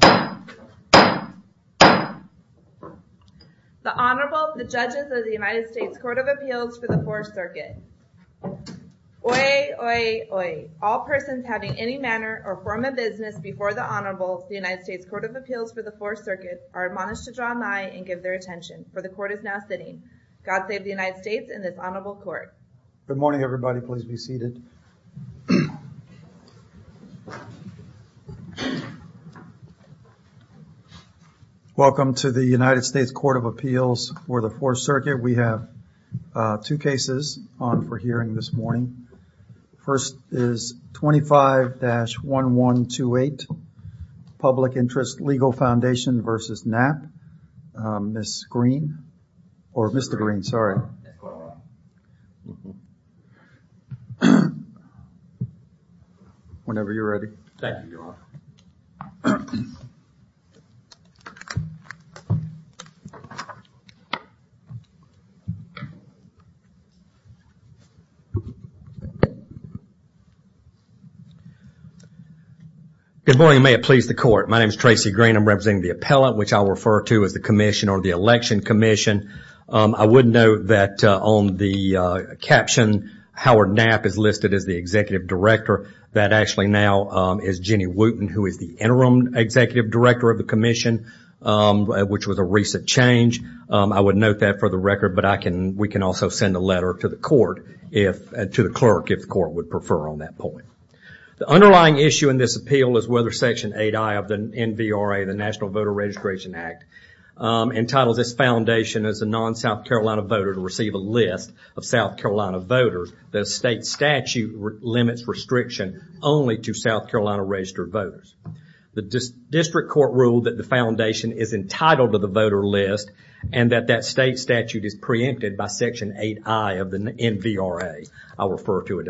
The Honorable, the Judges of the United States Court of Appeals for the Fourth Circuit. Oye, Oye, Oye. All persons having any manner or form of business before the Honorable of the United States Court of Appeals for the Fourth Circuit are admonished to draw nigh and give their attention, for the Court is now sitting. God save the United States and this Honorable Court. Good morning everybody, please be seated. Welcome to the United States Court of Appeals for the Fourth Circuit. We have two cases on for hearing this morning. First is 25-1128, Public Interest Legal Foundation v. Knapp. Ms. Green, or Mr. Green, sorry. Whenever you're ready. Thank you, Your Honor. Good morning, may it please the Court. My name is Tracy Green, I'm representing the appellate, which I'll refer to as the commission or the election commission. I would note that on the caption, Howard Knapp is listed as the executive director. That actually now is Jenny Wooten, who is the interim executive director of the commission, which was a recent change. I would note that for the record, but we can also send a letter to the court, to the clerk, if the court would prefer on that point. The underlying issue in this appeal is whether Section 8I of the NVRA, the National Voter Registration Act, entitles this foundation as a non-South Carolina voter to receive a list of South Carolina voters. The state statute limits restriction only to South Carolina registered voters. The district court ruled that the foundation is entitled to the voter list and that that state statute is preempted by Section 8I of the NVRA. I'll refer to it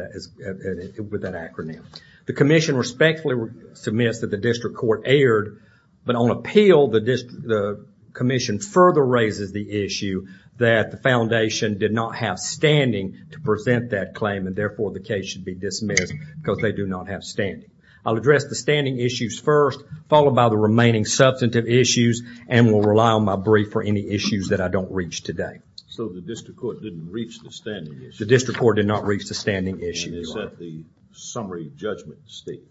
with that acronym. The commission respectfully submits that the district court erred, but on appeal, the commission further raises the issue that the foundation did not have standing to present that claim and therefore the case should be dismissed because they do not have standing. I'll address the standing issues first, followed by the remaining substantive issues, and will rely on my brief for any issues that I don't reach today. So the district court didn't reach the standing issues? The district court did not reach the standing issues. Is that the summary judgment stage?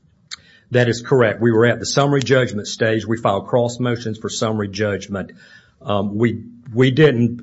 That is correct. We were at the summary judgment stage. We filed cross motions for summary judgment. We didn't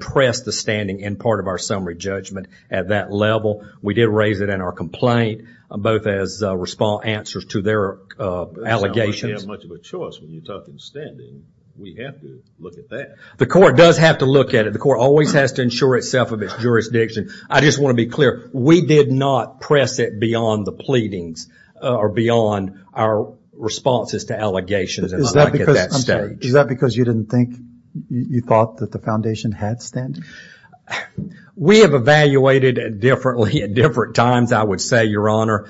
press the standing in part of our summary judgment at that level. We did raise it in our complaint, both as response answers to their allegations. You don't have much of a choice when you're talking standing. We have to look at that. The court does have to look at it. The court always has to ensure itself of its jurisdiction. I just want to be clear, we did not press it beyond the pleadings or beyond our responses to allegations at that stage. Is that because you thought that the foundation had standing? We have evaluated it differently at different times, I would say, Your Honor.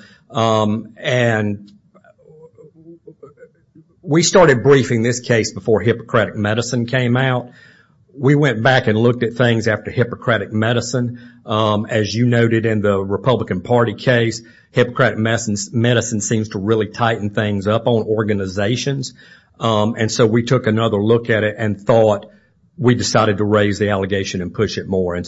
We started briefing this case before Hippocratic Medicine came out. We went back and looked at things after Hippocratic Medicine. As you noted in the Republican Party case, Hippocratic Medicine seems to really tighten things up on organizations. So we took another look at it and thought we decided to raise the allegation and push it more.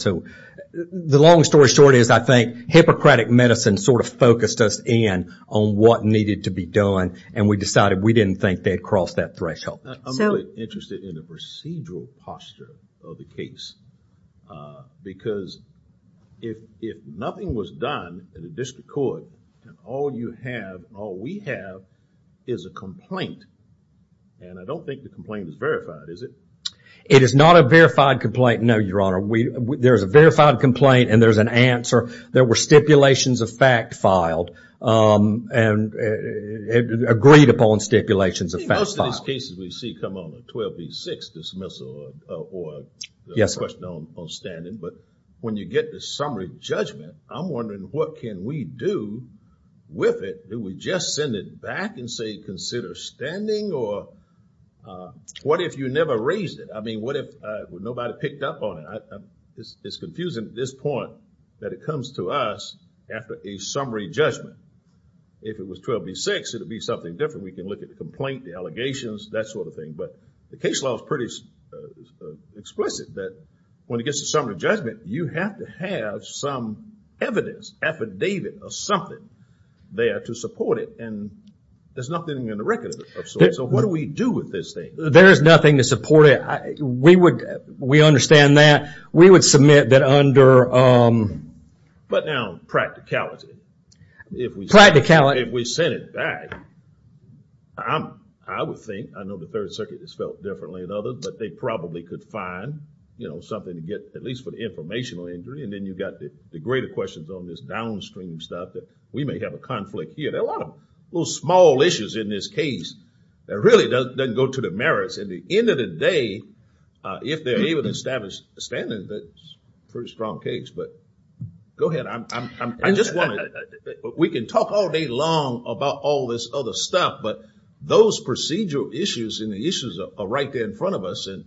The long story short is I think Hippocratic Medicine sort of focused us in on what needed to be done. We decided we didn't think they'd cross that threshold. I'm really interested in the procedural posture of the case. Because if nothing was done in the district court and all we have is a complaint, and I don't think the complaint is verified, is it? It is not a verified complaint, no, Your Honor. There's a verified complaint and there's an answer. There were stipulations of fact filed and agreed upon stipulations of fact filed. Most of these cases we see come on a 12B6 dismissal or a question on standing. But when you get the summary judgment, I'm wondering what can we do with it? Do we just send it back and say consider standing? Or what if you never raised it? I mean, what if nobody picked up on it? It's confusing at this point that it comes to us after a summary judgment. If it was 12B6, it would be something different. We can look at the complaint, the allegations, that sort of thing. But the case law is pretty explicit that when it gets to summary judgment, you have to have some evidence, affidavit or something there to support it. And there's nothing in the record. So what do we do with this thing? There's nothing to support it. We understand that. We would submit that under... But now practicality. Practicality. If we send it back, I would think, I know the Third Circuit has felt differently than others, but they probably could find, you know, something to get at least for the informational injury. And then you've got the greater questions on this downstream stuff. We may have a conflict here. There are a lot of little small issues in this case. It really doesn't go to the merits. At the end of the day, if they're able to establish a standard, that's a pretty strong case. But go ahead. I just want to... We can talk all day long about all this other stuff, but those procedural issues and the issues are right there in front of us. And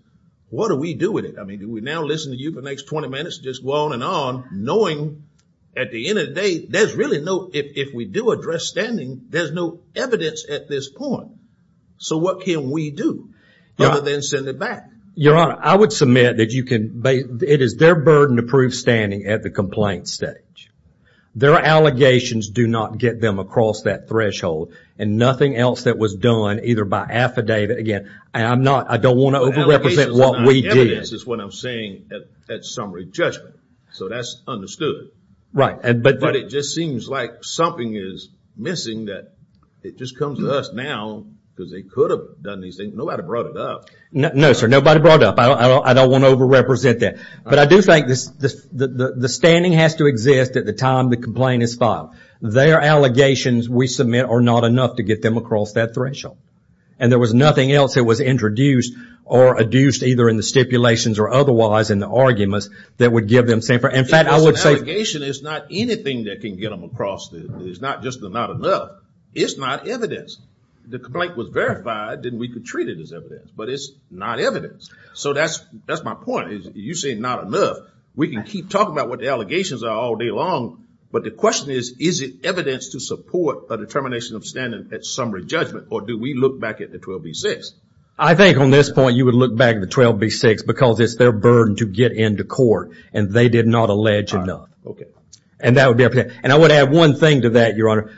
what do we do with it? I mean, do we now listen to you for the next 20 minutes, just go on and on, knowing at the end of the day, there's really no... If we do address standing, there's no evidence at this point. So what can we do other than send it back? Your Honor, I would submit that you can... It is their burden to prove standing at the complaint stage. Their allegations do not get them across that threshold. And nothing else that was done either by affidavit... Again, I'm not... I don't want to over-represent what we did. Evidence is what I'm saying at summary judgment. So that's understood. Right. But it just seems like something is missing that it just comes to us now because they could have done these things. Nobody brought it up. No, sir. Nobody brought it up. I don't want to over-represent that. But I do think the standing has to exist at the time the complaint is filed. Their allegations we submit are not enough to get them across that threshold. And there was nothing else that was introduced or adduced either in the stipulations or otherwise in the arguments that would give them... As an allegation, it's not anything that can get them across. It's not just the not enough. It's not evidence. The complaint was verified, then we could treat it as evidence. But it's not evidence. So that's my point. You say not enough. We can keep talking about what the allegations are all day long, but the question is, is it evidence to support a determination of standing at summary judgment or do we look back at the 12B6? I think on this point you would look back at the 12B6 because it's their burden to get into court. And they did not allege enough. And I would add one thing to that, Your Honor.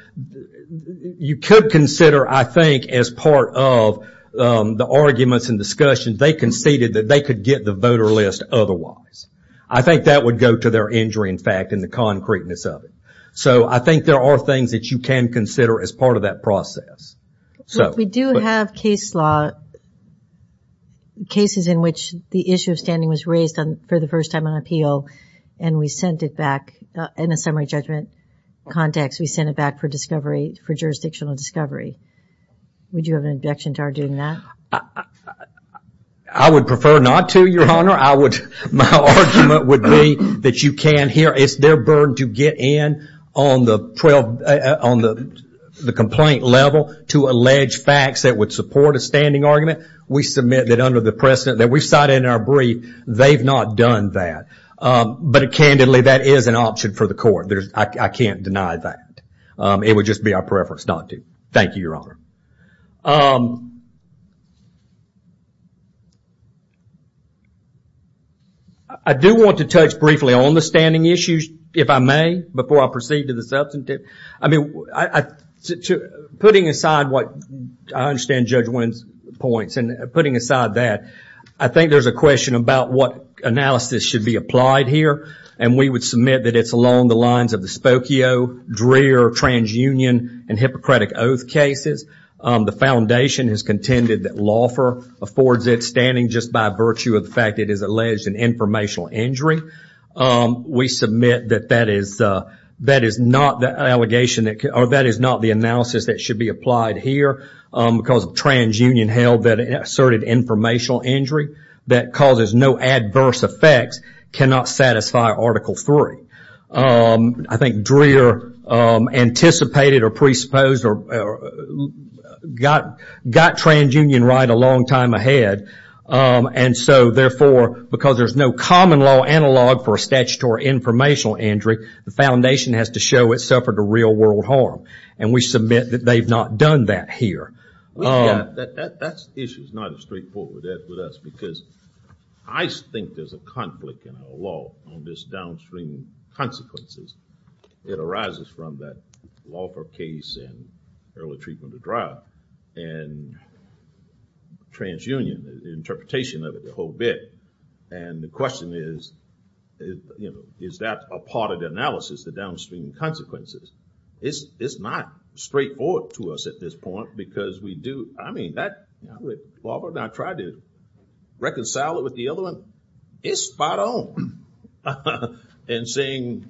You could consider, I think, as part of the arguments and discussions, they conceded that they could get the voter list otherwise. I think that would go to their injury, in fact, and the concreteness of it. So I think there are things that you can consider as part of that process. We do have case law, cases in which the issue of standing was raised for the first time on appeal and we sent it back in a summary judgment context. We sent it back for jurisdictional discovery. Would you have an objection to our doing that? I would prefer not to, Your Honor. My argument would be that you can't hear. It's their burden to get in on the complaint level to allege facts that would support a standing argument. We submit that under the precedent that we cited in our brief, they've not done that. But candidly, that is an option for the court. I can't deny that. It would just be our preference not to. Thank you, Your Honor. I do want to touch briefly on the standing issues, if I may, before I proceed to the substantive. I mean, putting aside what I understand Judge Wynn's points and putting aside that, I think there's a question about what analysis should be applied here and we would submit that it's along the lines of the Spokio, Dreer, TransUnion, and Hippocratic Oath cases. The foundation has contended that Loffer affords it standing just by virtue of the fact it is alleged an informational injury. We submit that that is not the allegation or that is not the analysis that should be applied here because TransUnion held that it asserted informational injury that causes no adverse effects, cannot satisfy Article III. I think Dreer anticipated or presupposed or got TransUnion right a long time ahead and so, therefore, because there's no common law analog for a statutory informational injury, the foundation has to show it suffered a real world harm and we submit that they've not done that here. That issue is not as straightforward with us because I think there's a conflict in our law on this downstream consequences. It arises from that Loffer case and early treatment of drive and TransUnion, the interpretation of it, the whole bit, and the question is, is that a part of the analysis, the downstream consequences? It's not straightforward to us at this point because we do, I mean, Loffer and I tried to reconcile it with the other one. It's spot on in saying,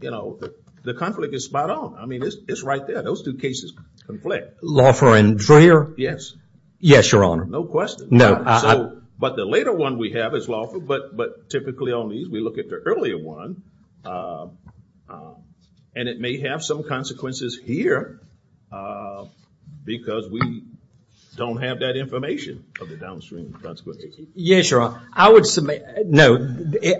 you know, the conflict is spot on. I mean, it's right there. Those two cases conflict. Loffer and Dreer? Yes, Your Honor. No question. No. But the later one we have is Loffer, but typically on these we look at the earlier one and it may have some consequences here because we don't have that information of the downstream consequences. Yes, Your Honor. I would submit, no,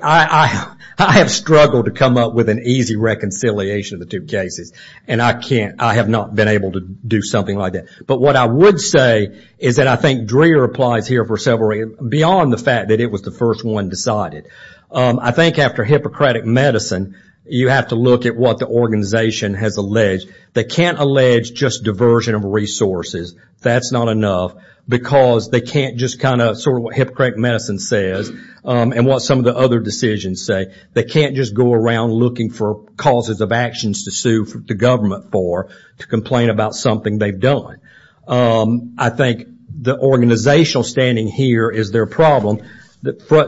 I have struggled to come up with an easy reconciliation of the two cases and I have not been able to do something like that. But what I would say is that I think Dreer applies here for several reasons beyond the fact that it was the first one decided. I think after Hippocratic Medicine, you have to look at what the organization has alleged. They can't allege just diversion of resources. That's not enough because they can't just kind of, sort of what Hippocratic Medicine says and what some of the other decisions say. They can't just go around looking for causes of actions to sue the government for to complain about something they've done. I think the organizational standing here is their problem.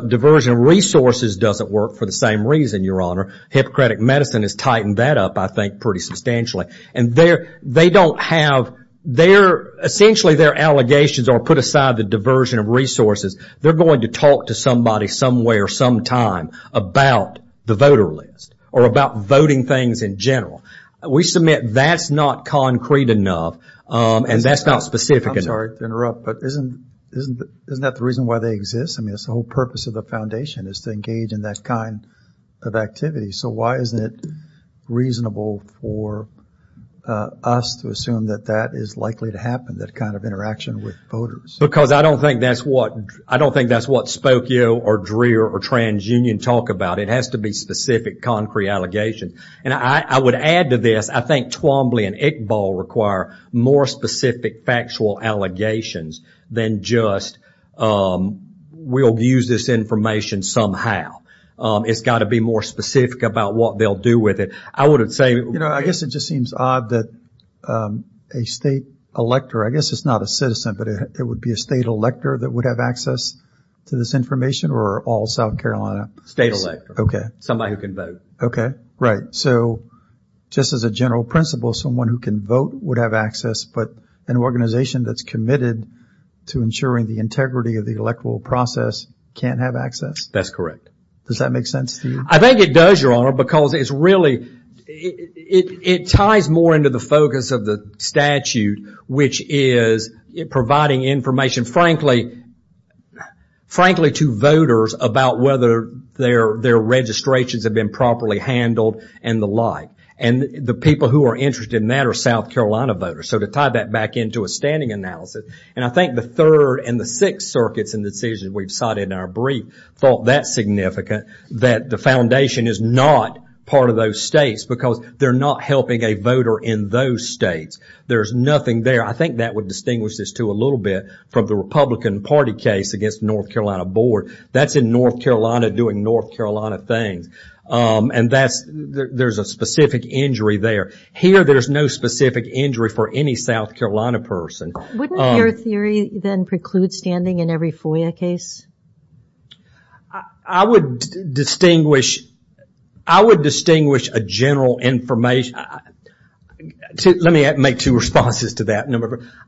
Diversion of resources doesn't work for the same reason, Hippocratic Medicine has tightened that up, I think, pretty substantially. And they don't have, essentially their allegations are put aside the diversion of resources. They're going to talk to somebody somewhere sometime about the voter list or about voting things in general. We submit that's not concrete enough and that's not specific enough. I'm sorry to interrupt, but isn't that the reason why they exist? I mean, it's the whole purpose of the foundation is to engage in that kind of activity. So why isn't it reasonable for us to assume that that is likely to happen, that kind of interaction with voters? Because I don't think that's what Spokio or Dreer or TransUnion talk about. It has to be specific, concrete allegations. And I would add to this, I think Twombly and Iqbal require more specific factual allegations than just we'll use this information somehow. It's got to be more specific about what they'll do with it. I would say... You know, I guess it just seems odd that a state elector, I guess it's not a citizen, but it would be a state elector that would have access to this information or all South Carolina? State elector. Somebody who can vote. Okay, right. So just as a general principle, someone who can vote would have access, but an organization that's committed to ensuring the integrity of the electoral process can't have access? That's correct. Does that make sense to you? I think it does, Your Honor, because it's really... It ties more into the focus of the statute, which is providing information. And frankly, to voters, about whether their registrations have been properly handled and the like. And the people who are interested in that are South Carolina voters. So to tie that back into a standing analysis, and I think the Third and the Sixth Circuits in the decisions we've cited in our brief thought that significant, that the foundation is not part of those states because they're not helping a voter in those states. There's nothing there. I think that would distinguish this too a little bit from the Republican Party case against the North Carolina board. That's in North Carolina doing North Carolina things. And that's... There's a specific injury there. Here, there's no specific injury for any South Carolina person. Wouldn't your theory then preclude standing in every FOIA case? I would distinguish... I would distinguish a general information... Let me make two responses to that.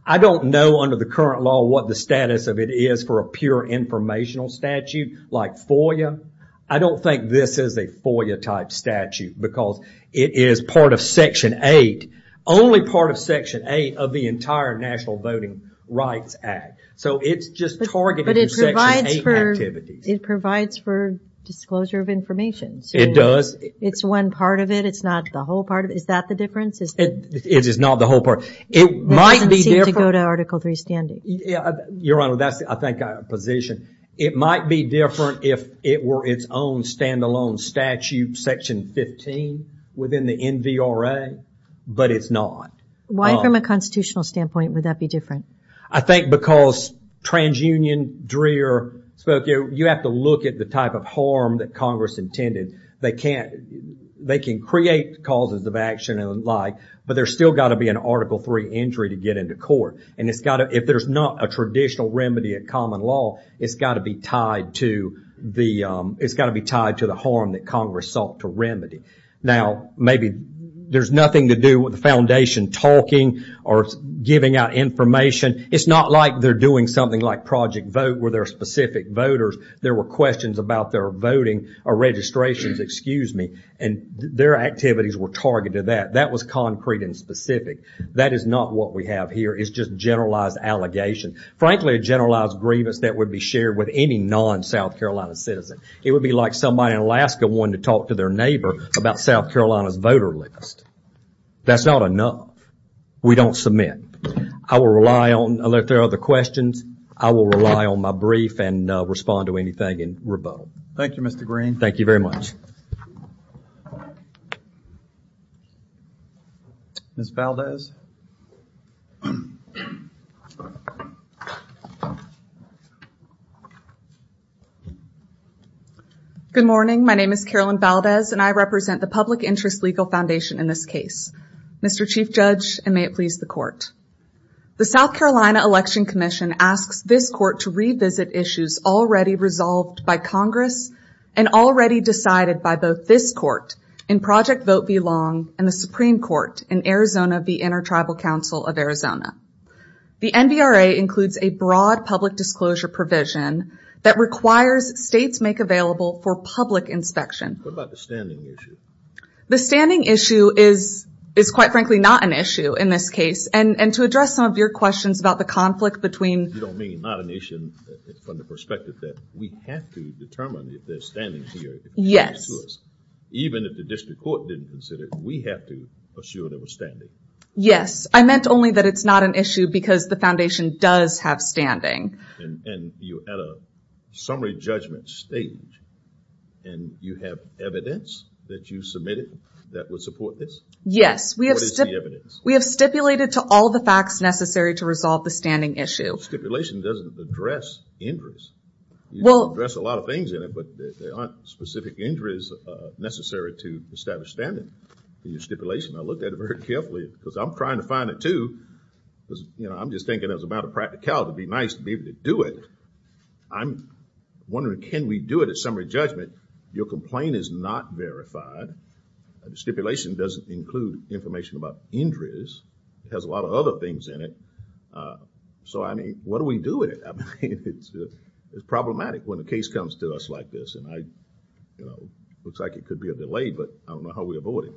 I don't know under the current law what the status of it is for a pure informational statute like FOIA. I don't think this is a FOIA type statute because it is part of Section 8. Only part of Section 8 of the entire National Voting Rights Act. So it's just targeting Section 8 activities. It provides for disclosure of information. It does. It's one part of it. It's not the whole part of it. Is that the difference? It is not the whole part. It might be different... It doesn't seem to go to Article 3 standing. Your Honor, that's, I think, a position. It might be different if it were its own stand-alone statute, Section 15, within the NVRA. But it's not. Why, from a constitutional standpoint, would that be different? I think because TransUnion, Dreer, Spokane, you have to look at the type of harm that Congress intended. They can't... They can create causes of action and the like, but there's still got to be an Article 3 injury to get into court. And it's got to... If there's not a traditional remedy at common law, it's got to be tied to the... It's got to be tied to the harm that Congress sought to remedy. Now, maybe there's nothing to do with the foundation talking or giving out information. It's not like they're doing something like Project Vote where there are specific voters. There were questions about their voting, or registrations, excuse me, and their activities were targeted to that. That was concrete and specific. That is not what we have here. It's just generalized allegation. Frankly, a generalized grievance that would be shared with any non-South Carolina citizen. It would be like somebody in Alaska wanting to talk to their neighbor about South Carolina's voter list. That's not enough. We don't submit. I will rely on... If there are other questions, I will rely on my brief and respond to anything in rebuttal. Thank you, Mr. Green. Thank you very much. Ms. Valdez. Good morning. My name is Carolyn Valdez and I represent the Public Interest Legal Foundation in this case. Mr. Chief Judge, and may it please the Court. The South Carolina Election Commission asks this Court to revisit issues already resolved by Congress and already decided by both this Court in Project Vote v. Long and the Supreme Court in Arizona v. Inter-Tribal Council of Arizona. The NVRA includes a broad public disclosure provision that requires states make available for public inspection. What about the standing issue? The standing issue is, quite frankly, not an issue in this case. To address some of your questions about the conflict between... You don't mean not an issue from the perspective that we have to determine if they're standing here. Yes. Even if the District Court didn't consider it, we have to assure they were standing. Yes. I meant only that it's not an issue because the Foundation does have standing. And you had a summary judgment stage and you have evidence that you submitted that would support this? Yes. What is the evidence? We have stipulated to all the facts necessary to resolve the standing issue. Stipulation doesn't address injuries. You can address a lot of things in it, but there aren't specific injuries necessary to establish standing. In your stipulation, I looked at it very carefully because I'm trying to find it too. I'm just thinking it's a matter of practicality. It'd be nice to be able to do it. I'm wondering, can we do it at summary judgment? Your complaint is not verified. The stipulation doesn't include information about injuries. It has a lot of other things in it. So, I mean, what do we do with it? I mean, it's problematic when a case comes to us like this. It looks like it could be a delay, but I don't know how we avoid it.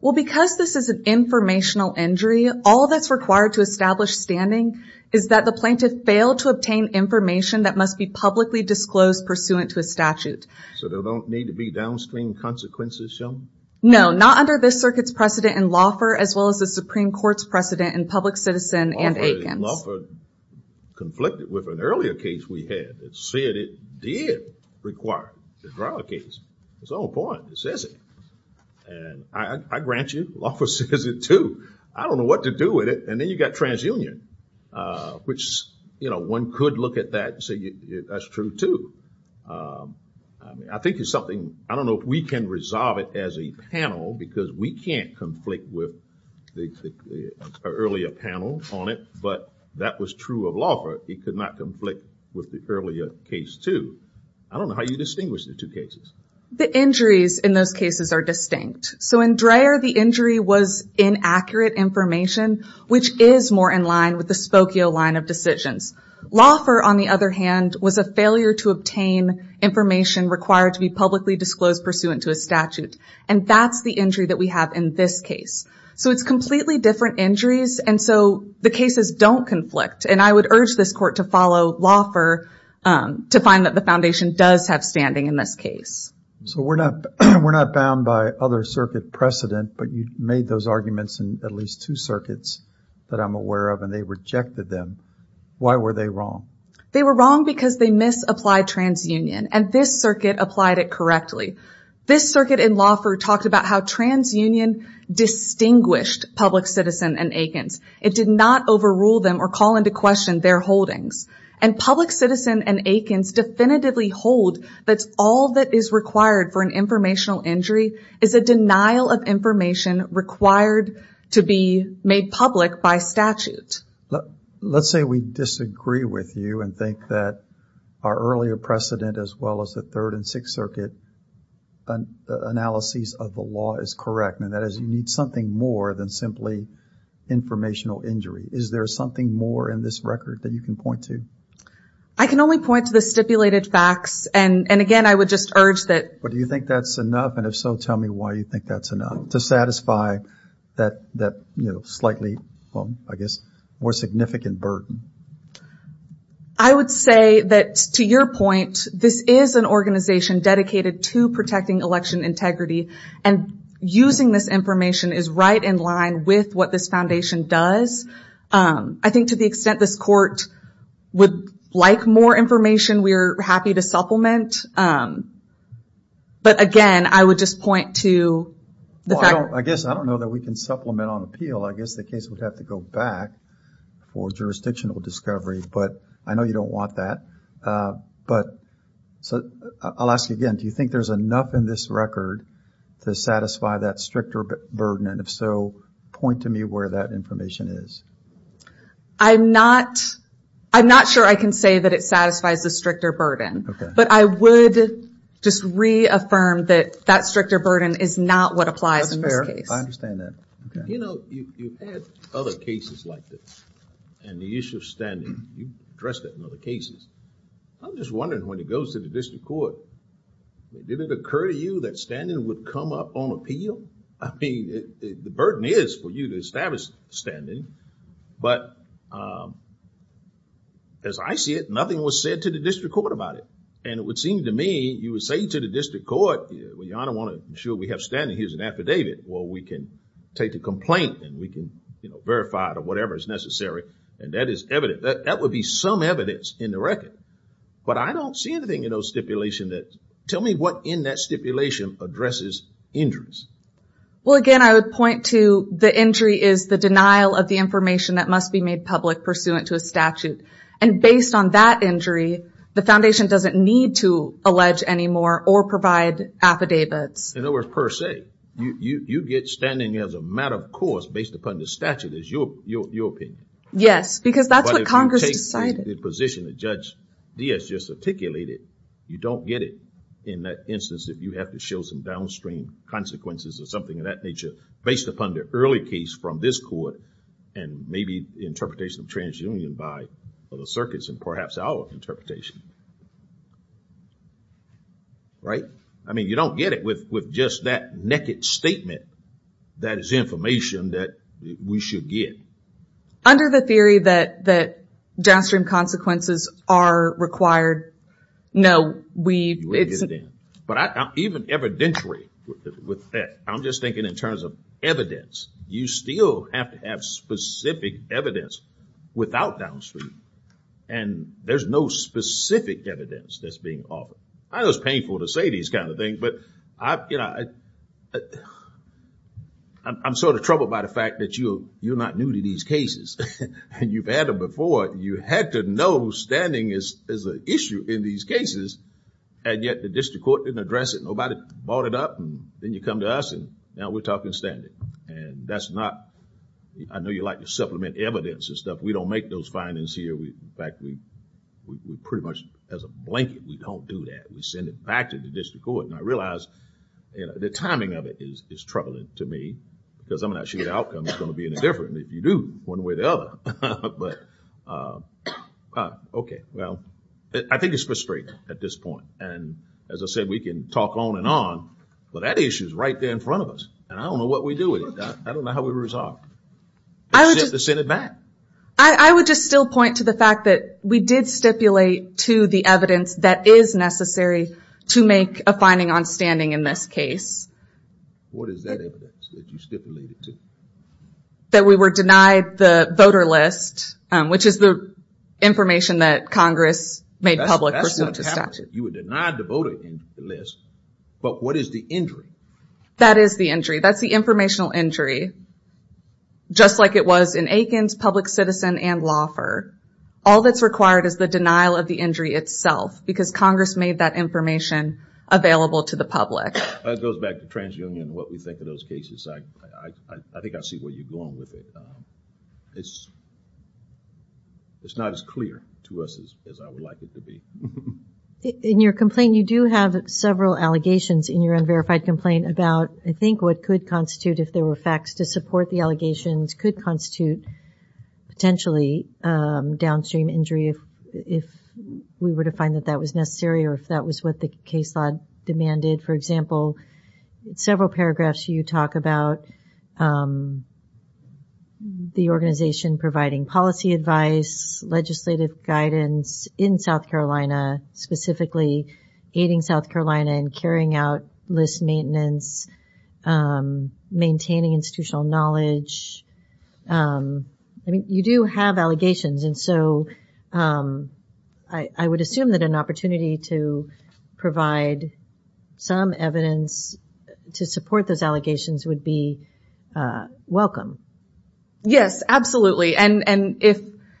Well, because this is an informational injury, all that's required to establish standing is that the plaintiff failed to obtain information that must be publicly disclosed pursuant to a statute. So, there don't need to be downstream consequences shown? No, not under this circuit's precedent in Laufer as well as the Supreme Court's precedent in Public Citizen and Aikens. Laufer conflicted with an earlier case we had that said it did require the trial case. It's all important. It says it. And I grant you, Laufer says it too. I don't know what to do with it. And then you got TransUnion, which, you know, one could look at that and say that's true too. I think it's something, I don't know if we can resolve it as a panel because we can't conflict with the earlier panel on it, but that was true of Laufer. He could not conflict with the earlier case too. I don't know how you distinguish the two cases. The injuries in those cases are distinct. So, in Dreher, the injury was inaccurate information, which is more in line with the Spokio line of decisions. Laufer, on the other hand, was a failure to obtain information required to be publicly disclosed pursuant to a statute. And that's the injury that we have in this case. So, it's completely different injuries. And so, the cases don't conflict. And I would urge this Court to follow up on that. So, we're not bound by other circuit precedent, but you made those arguments in at least two circuits that I'm aware of and they rejected them. Why were they wrong? They were wrong because they misapplied TransUnion. And this circuit applied it correctly. This circuit in Laufer talked about how TransUnion distinguished public citizen and Aikens. It did not overrule them or call into question their holdings. And public citizen and Aikens definitively hold that all that is required for an informational injury is a denial of information required to be made public by statute. Let's say we disagree with you and think that our earlier precedent, as well as the Third and Sixth Circuit analyses of the law is correct. And that is, you need something more than simply informational injury. Is there something more in this record that you can point to? I can only point to the stipulated facts. And again, I would just urge that... But do you think that's enough? And if so, tell me why you think that's enough to satisfy that slightly, well, I guess more significant burden. I would say that to your point, this is an organization dedicated to protecting election integrity. And using this information is right in line with what this foundation does. I think to the extent this court would like more information, we are happy to supplement. But again, I would just point to... I guess I don't know that we can supplement on appeal. I guess the case would have to go back for jurisdictional discovery. But I know you don't want that. But... I'll ask you again. Do you think there's enough in this record to satisfy that stricter burden? And if so, point to me where that information is. I'm not... I'm not sure I can say that it satisfies the stricter burden. But I would just reaffirm that that stricter burden is not what applies in this case. I understand that. You've had other cases like this. And the issue of standing. You've addressed that in other cases. I'm just wondering when it goes to the district court, did it occur to you that standing would come up on appeal? I mean, the burden is for you to establish standing. But... As I see it, nothing was said to the district court about it. And it would seem to me, you would say to the district court, well, Your Honor, I'm sure we have standing. Here's an affidavit. Well, we can take the complaint and we can verify it or whatever is necessary. And that is evident. That would be some evidence in the record. But I don't see anything in those stipulations that... Tell me what in that stipulation addresses injuries. Well, again, I would point to the injury is the denial of the information that must be made public pursuant to a statute. And based on that injury, the foundation doesn't need to allege anymore or provide affidavits. In other words, per se, you get standing as a matter of course based upon the statute is your opinion. Yes, because that's what Congress decided. But if you take the position that Judge Diaz just articulated, you don't get it in that instance if you have to show some downstream consequences or something of that nature based upon the early case from this court and maybe interpretation of transunion by other circuits and perhaps our interpretation. Right? I mean, you don't get it with just that naked statement that is information that we should get. Under the theory that downstream consequences are required, no. But even evidentially with that, I'm just thinking in terms of evidence, you still have to have specific evidence without downstream. And there's no specific evidence that's being offered. I know it's painful to say these kind of things, but I I'm sort of troubled by the fact that you're not new to these cases. You've had them before. You had to know standing is an issue in these cases and yet the district court didn't address it. Nobody brought it up and then you come to us and now we're talking standing. And that's not I know you like to supplement evidence and stuff. We don't make those findings here. In fact, we pretty much as a blanket, we don't do that. We send it back to the district court and I realize the timing of it is troubling to me because I'm not sure the outcome is going to be any different if you do one way or the other. But okay, well, I think it's frustrating at this point. And as I said, we can talk on and on but that issue is right there in front of us. And I don't know what we do with it. I don't know how we resolve it. I would just still point to the fact that we did stipulate to the evidence that is necessary to make a finding on standing in this case. What is that evidence that you stipulated to? That we were denied the voter list, which is the information that Congress made public pursuant to statute. You were denied the voter list but what is the injury? That is the injury. That's the informational injury. Just like it was in Aikens, Public Citizen, and Laufer. All that's required is the denial of the injury itself because Congress made that information available to the public. That goes back to TransUnion and what we I think I see where you're going with it. It's not as clear to us as I would like it to be. In your complaint, you do have several allegations in your unverified complaint about I think what could constitute if there were facts to support the allegations could constitute potentially downstream injury if we were to find that that was necessary or if that was what the case law demanded. For example, several paragraphs you talk about the organization providing policy advice, legislative guidance in South Carolina, specifically aiding South Carolina in carrying out list maintenance, maintaining institutional knowledge. You do have allegations and so I would assume that an opportunity to provide some evidence to support those allegations would be welcome. Yes, absolutely.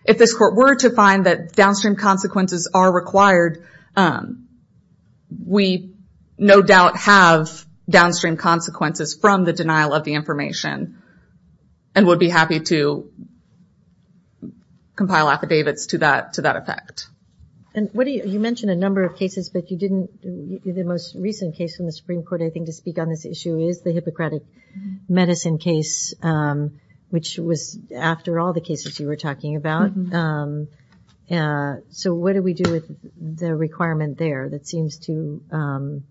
If this court were to find that downstream consequences are required, we no doubt have downstream consequences from the denial of the information and would be happy to compile affidavits to that effect. You mentioned a number of cases but you didn't the most recent case from the Supreme Court I think to speak on this issue is the Hippocratic Medicine case which was after all the cases you were talking about. So what do we do with the requirement there that seems to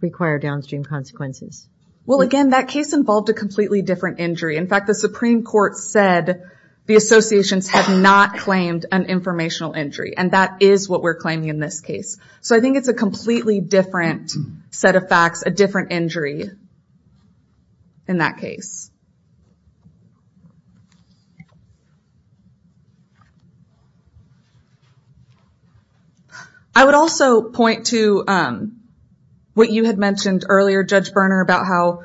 require downstream consequences? Well again, that case involved a completely different injury. In fact, the Supreme Court said the associations have not claimed an informational injury and that is what we're claiming in this case. So I think it's a completely different set of facts, a different injury in that case. I would also point to what you had mentioned earlier, Judge Berner, about how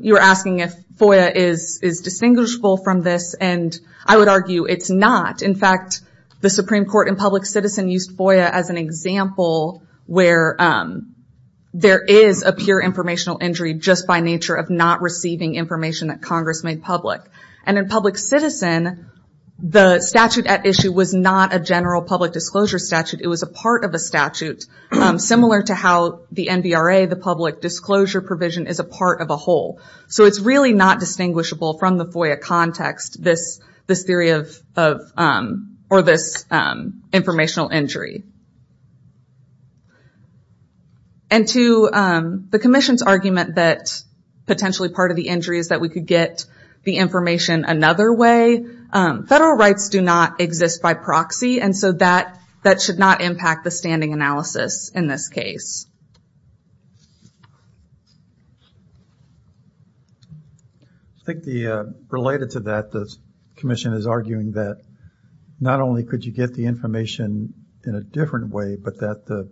you were asking if FOIA is distinguishable from this and I would argue it's not. In fact, the Supreme Court in Public Citizen used FOIA as an example where there is a pure informational injury just by nature of not receiving information that Congress made public. And in Public Citizen, the statute at issue was not a general public disclosure statute. It was a part of a statute similar to how the NBRA, the public disclosure provision, is a part of a whole. So it's really not distinguishable from the FOIA context, this theory of this informational injury. And to the Commission's argument that potentially part of the injury is that we could get the information another way, federal rights do not exist by proxy and so that should not impact the standing analysis in this case. I think related to that, the Commission is arguing that not only could you get the information in a different way, but that the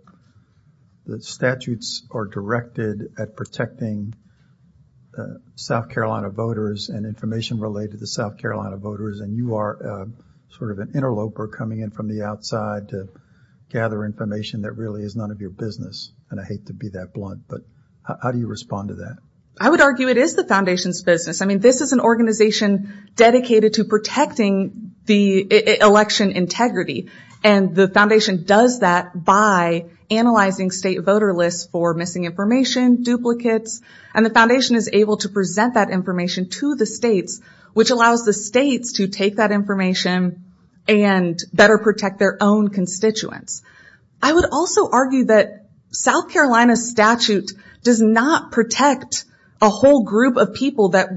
statutes are directed at protecting South Carolina voters and information related to South Carolina voters and you are sort of an interloper coming in from the outside to gather information that really is none of your business. And I hate to be that blunt, but how do you respond to that? I would argue it is the Foundation's business. I mean, this is an organization dedicated to protecting the election integrity and the Foundation does that by analyzing state voter lists for missing information, duplicates, and the Foundation is able to present that information to the states, which allows the states to take that information and better protect their own constituents. I would also argue that South Carolina's statute does not protect a whole group of people that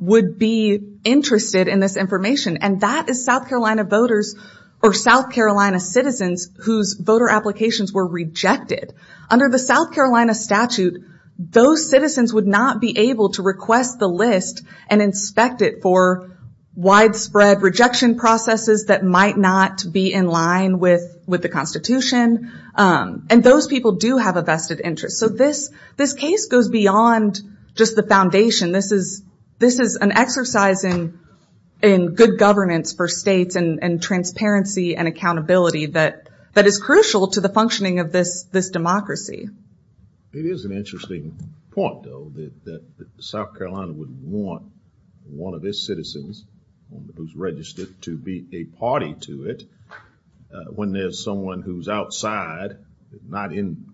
would be interested in this information and that is South Carolina voters or South Carolina citizens whose voter applications were rejected. Under the South Carolina statute, those citizens would not be able to request the list and inspect it for widespread rejection processes that might not be in line with the Constitution and those people do have a vested interest. So this case goes beyond just the Foundation. This is an exercise in good governments for states and transparency and accountability that is crucial to the functioning of this democracy. It is an interesting point, though, that South Carolina would want one of its citizens who's registered to be a party to it when there's someone who's outside and not in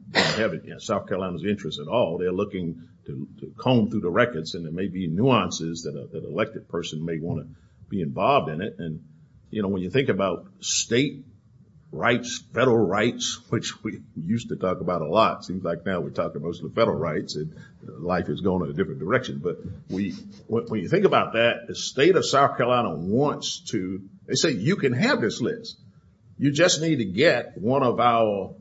South Carolina's interest at all. They're looking to comb through the records and there may be nuances that an elected person may want to be involved in it and when you think about state rights, federal rights, which we used to talk about a lot. It seems like now we talk about most of the federal rights and life is going in a different direction, but when you think about that, the state of South Carolina wants to have this list. You just need to get one of our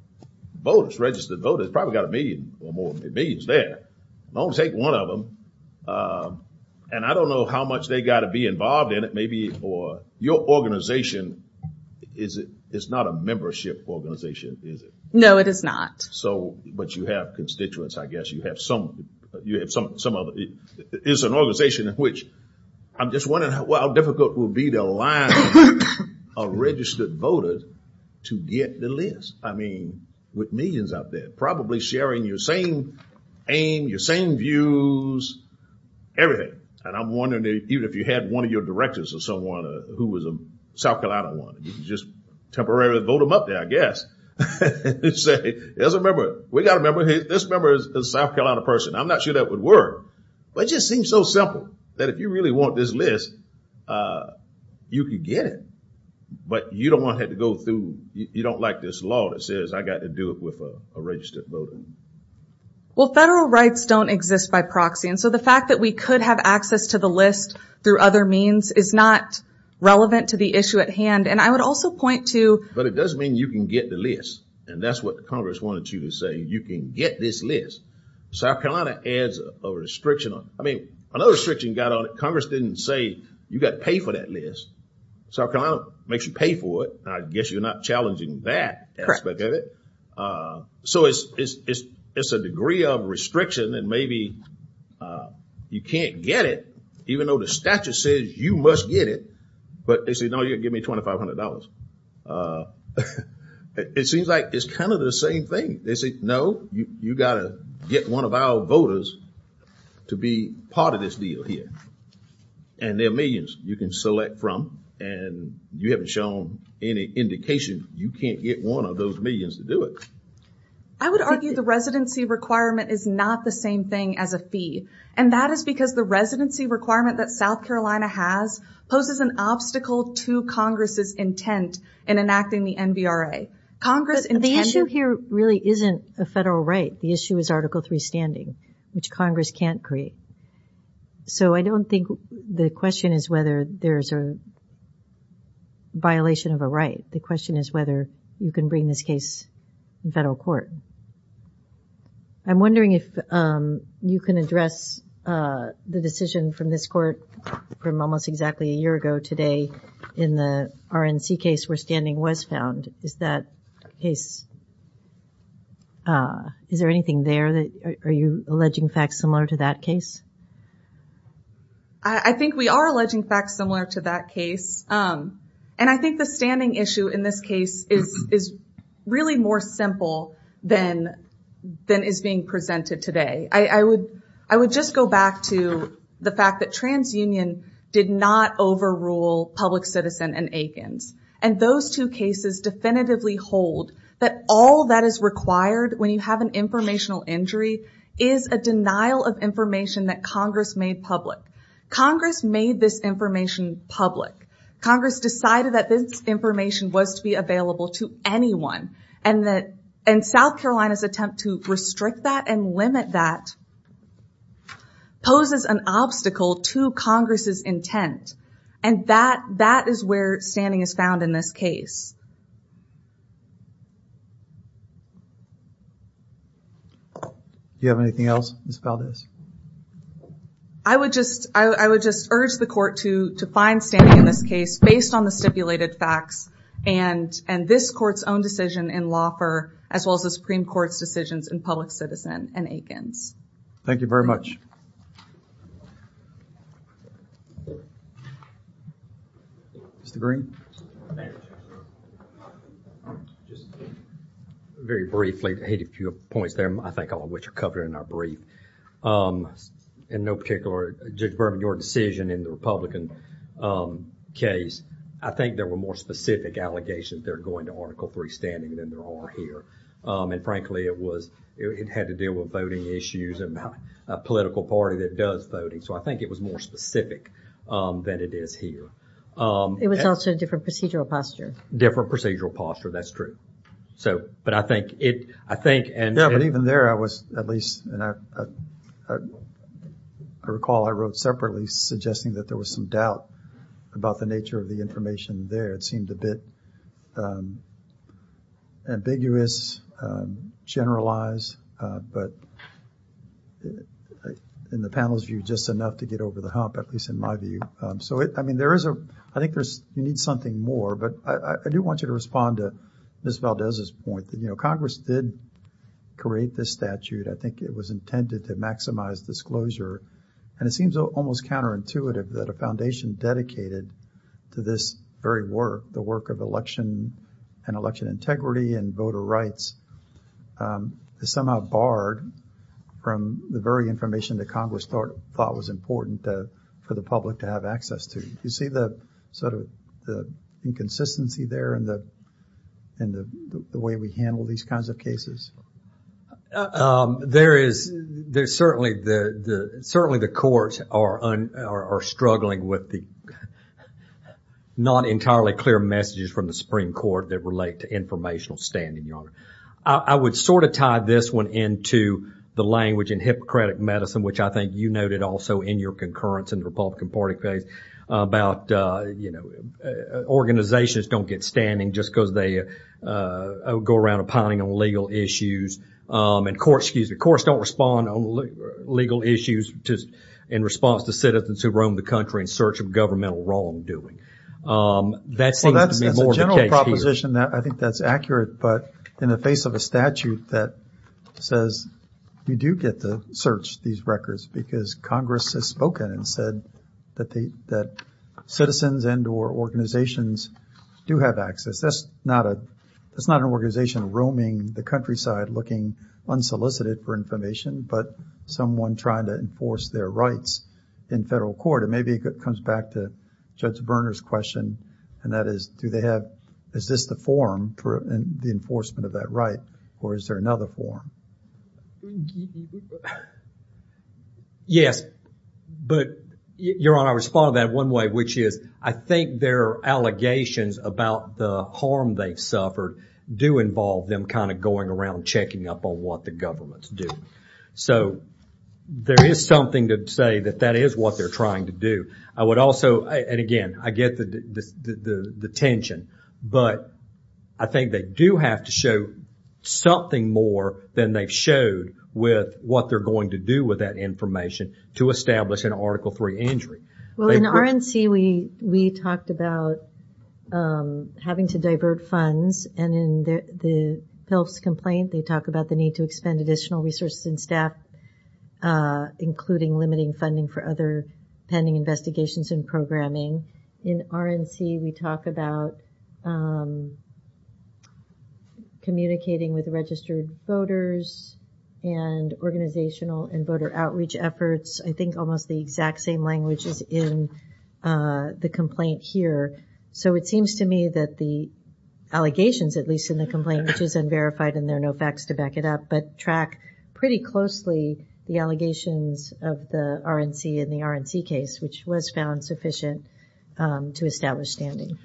voters, registered voters, probably got a million or more millions there. Don't take one of them. And I don't know how much they got to be involved in it, maybe, or your organization is not a membership organization, is it? No, it is not. But you have constituents, I guess. You have some... It's an organization in which I'm just wondering how difficult it will be to get a line of registered voters to get the list. I mean, with millions out there, probably sharing your same aim, your same views, everything. And I'm wondering, even if you had one of your directors or someone who was a South Carolina one, you could just temporarily vote them up there, I guess. And say, there's a member, we got a member, this member is a South Carolina person. I'm not sure that would work. But it just seems so simple that if you really want this list, you can get it. But you don't want to have to go through... You don't like this law that says, I got to do it with a registered voter. Well, federal rights don't exist by proxy. And so the fact that we could have access to the list through other means is not relevant to the issue at hand. And I would also point to... But it does mean you can get the list. And that's what Congress wanted you to say. You can get this list. South Carolina adds a restriction on it. I mean, another restriction got on it. Congress didn't say, you got to pay for that list. South Carolina makes you pay for it. I guess you're not challenging that aspect of it. So it's a degree of restriction that maybe you can't get it. Even though the statute says you must get it. But they say, no, you'll give me $2,500. It seems like it's kind of the same thing. They say, no, you got to get one of our voters to be part of this deal here. And there are millions you can select from. And you haven't shown any indication you can't get one of those millions to do it. I would argue the residency requirement is not the same thing as a fee. And that is because the residency requirement that South Carolina has poses an obstacle to Congress's intent in enacting the NBRA. Congress intended... The issue here really isn't a federal right. The issue is Article III standing, which Congress can't create. So I don't think the question is whether there's a violation of a right. The question is whether you can bring this case to federal court. I'm wondering if you can address the decision from this court from almost exactly a year ago today in the RNC case where standing was found. Is that case... Is there anything there? Are you alleging facts similar to that case? I think we are alleging facts similar to that case. And I think the standing issue in this case is really more simple than is being presented today. I would just go back to the fact that TransUnion did not overrule Public Citizen and Aikens. And those two cases definitively hold that all that is required when you have an informational injury is a denial of information that Congress made public. Congress made this information public. Congress decided that this information was to be available to anyone. And South Carolina's attempt to restrict that and limit that poses an obstacle to Congress's intent. And that is where standing is found in this case. Do you have anything else about this? I would just urge the court to find standing in this case based on the stipulated facts and this court's own decision in Laufer as well as the Supreme Court's decisions in Public Citizen and Aikens. Thank you very much. Mr. Green? Just very briefly, I had a few points there I think all of which are covered in our brief. Um, in no particular Judge Berman, your decision in the Republican case I think there were more specific allegations there going to Article 3 standing than there are here. Um, and frankly it was, it had to deal with voting issues and not a political party that does voting. So I think it was more specific than it is here. It was also a different procedural posture. Different procedural posture, that's true. So, but I think it, I think and even there I was at least I recall I wrote separately suggesting that there was some doubt about the nature of the information there. It seemed a bit ambiguous, generalized, but in the panel's view just enough to get over the hump, at least in my view. Um, so I mean there is a, I think there's, you need something more, but I do want you to respond to Ms. Valdez's point. You know, Congress did create this statute. I think it was intended to maximize disclosure. And it seems almost counterintuitive that a foundation dedicated to this very work, the work of election and election integrity and voter rights is somehow barred from the very information that Congress thought was important for the public to have access to. Do you see the sort of inconsistency there in the way we handle these kinds of cases? Um, there is there's certainly the certainly the courts are struggling with the not entirely clear messages from the Supreme Court that relate to informational standing, Your Honor. I would sort of tie this one into the language in Hippocratic Medicine, which I think you noted also in your concurrence in the Republican Party phase about, you know, organizations don't get standing just because they go around pining on legal issues and courts, excuse me, courts don't respond on legal issues in response to citizens who roam the country in search of governmental wrongdoing. Um, that seems That's a general proposition that I think that's accurate, but in the face of a statute that says you do get to search these records because Congress has spoken and said that they that citizens and or organizations do have access. That's not a, that's not an organization roaming the countryside looking unsolicited for information but someone trying to enforce their rights in federal court and maybe it comes back to Judge Werner's question and that is do they have, is this the forum for the enforcement of that right or is there another forum? Yes. But, Your Honor, I respond to that one way, which is I think their allegations about the harm they've suffered do involve them kind of going around checking up on what the governments do. So, there is something to say that that is what they're trying to do. I would also, and again, I get the tension but I think they do have to show something more than they've showed with what they're going to do with that information to establish an Article 3 injury. Well, in R&C we talked about having to divert funds and in the Phelps complaint they talk about the need to expend additional resources and staff including limiting funding for other pending investigations and programming. In R&C we talk about communicating with registered voters and organizational and voter outreach efforts. I think almost the exact same language is in the complaint here. So, it seems to me that the allegations, at least in the complaint, which is unverified and there are no facts to back it up, but track pretty closely the allegations of the R&C in the R&C case, which was found sufficient to establish standing.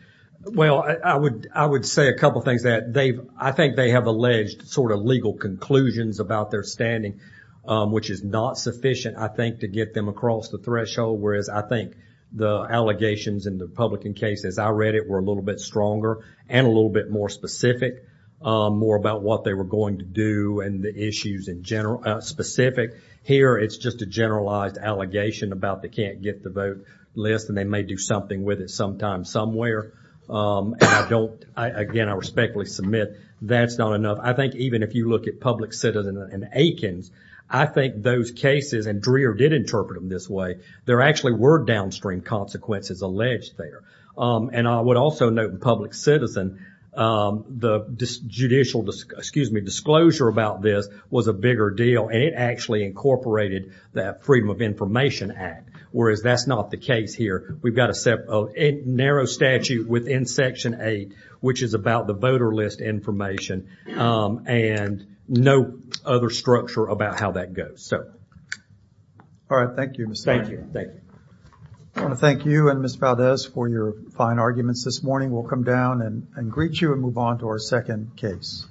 Well, I would say a couple things that I think they have alleged sort of legal conclusions about their standing, which is not sufficient, I think, to get them across the threshold, whereas I think the allegations in the Republican case as I read it were a little bit stronger and a little bit more specific, more about what they were going to do and the issues in general, specific. Here, it's just a generalized allegation about they can't get the vote list and they may do something with it sometime, somewhere. And I don't, again, I respectfully submit that's not enough. I think even if you look at public citizen in Aikens, I think those cases and Dreher did interpret them this way, there actually were downstream consequences alleged there. And I would also note in public citizen the judicial disclosure about this was a bigger deal and it actually incorporated that Freedom of Information Act, whereas that's not the case here. We've got a narrow statute within Section 8 which is about the voter list information and no other structure about how that goes. All right. Thank you. I want to thank you and Ms. Valdez for your fine arguments this morning. We'll come down and greet you and move on to our second case.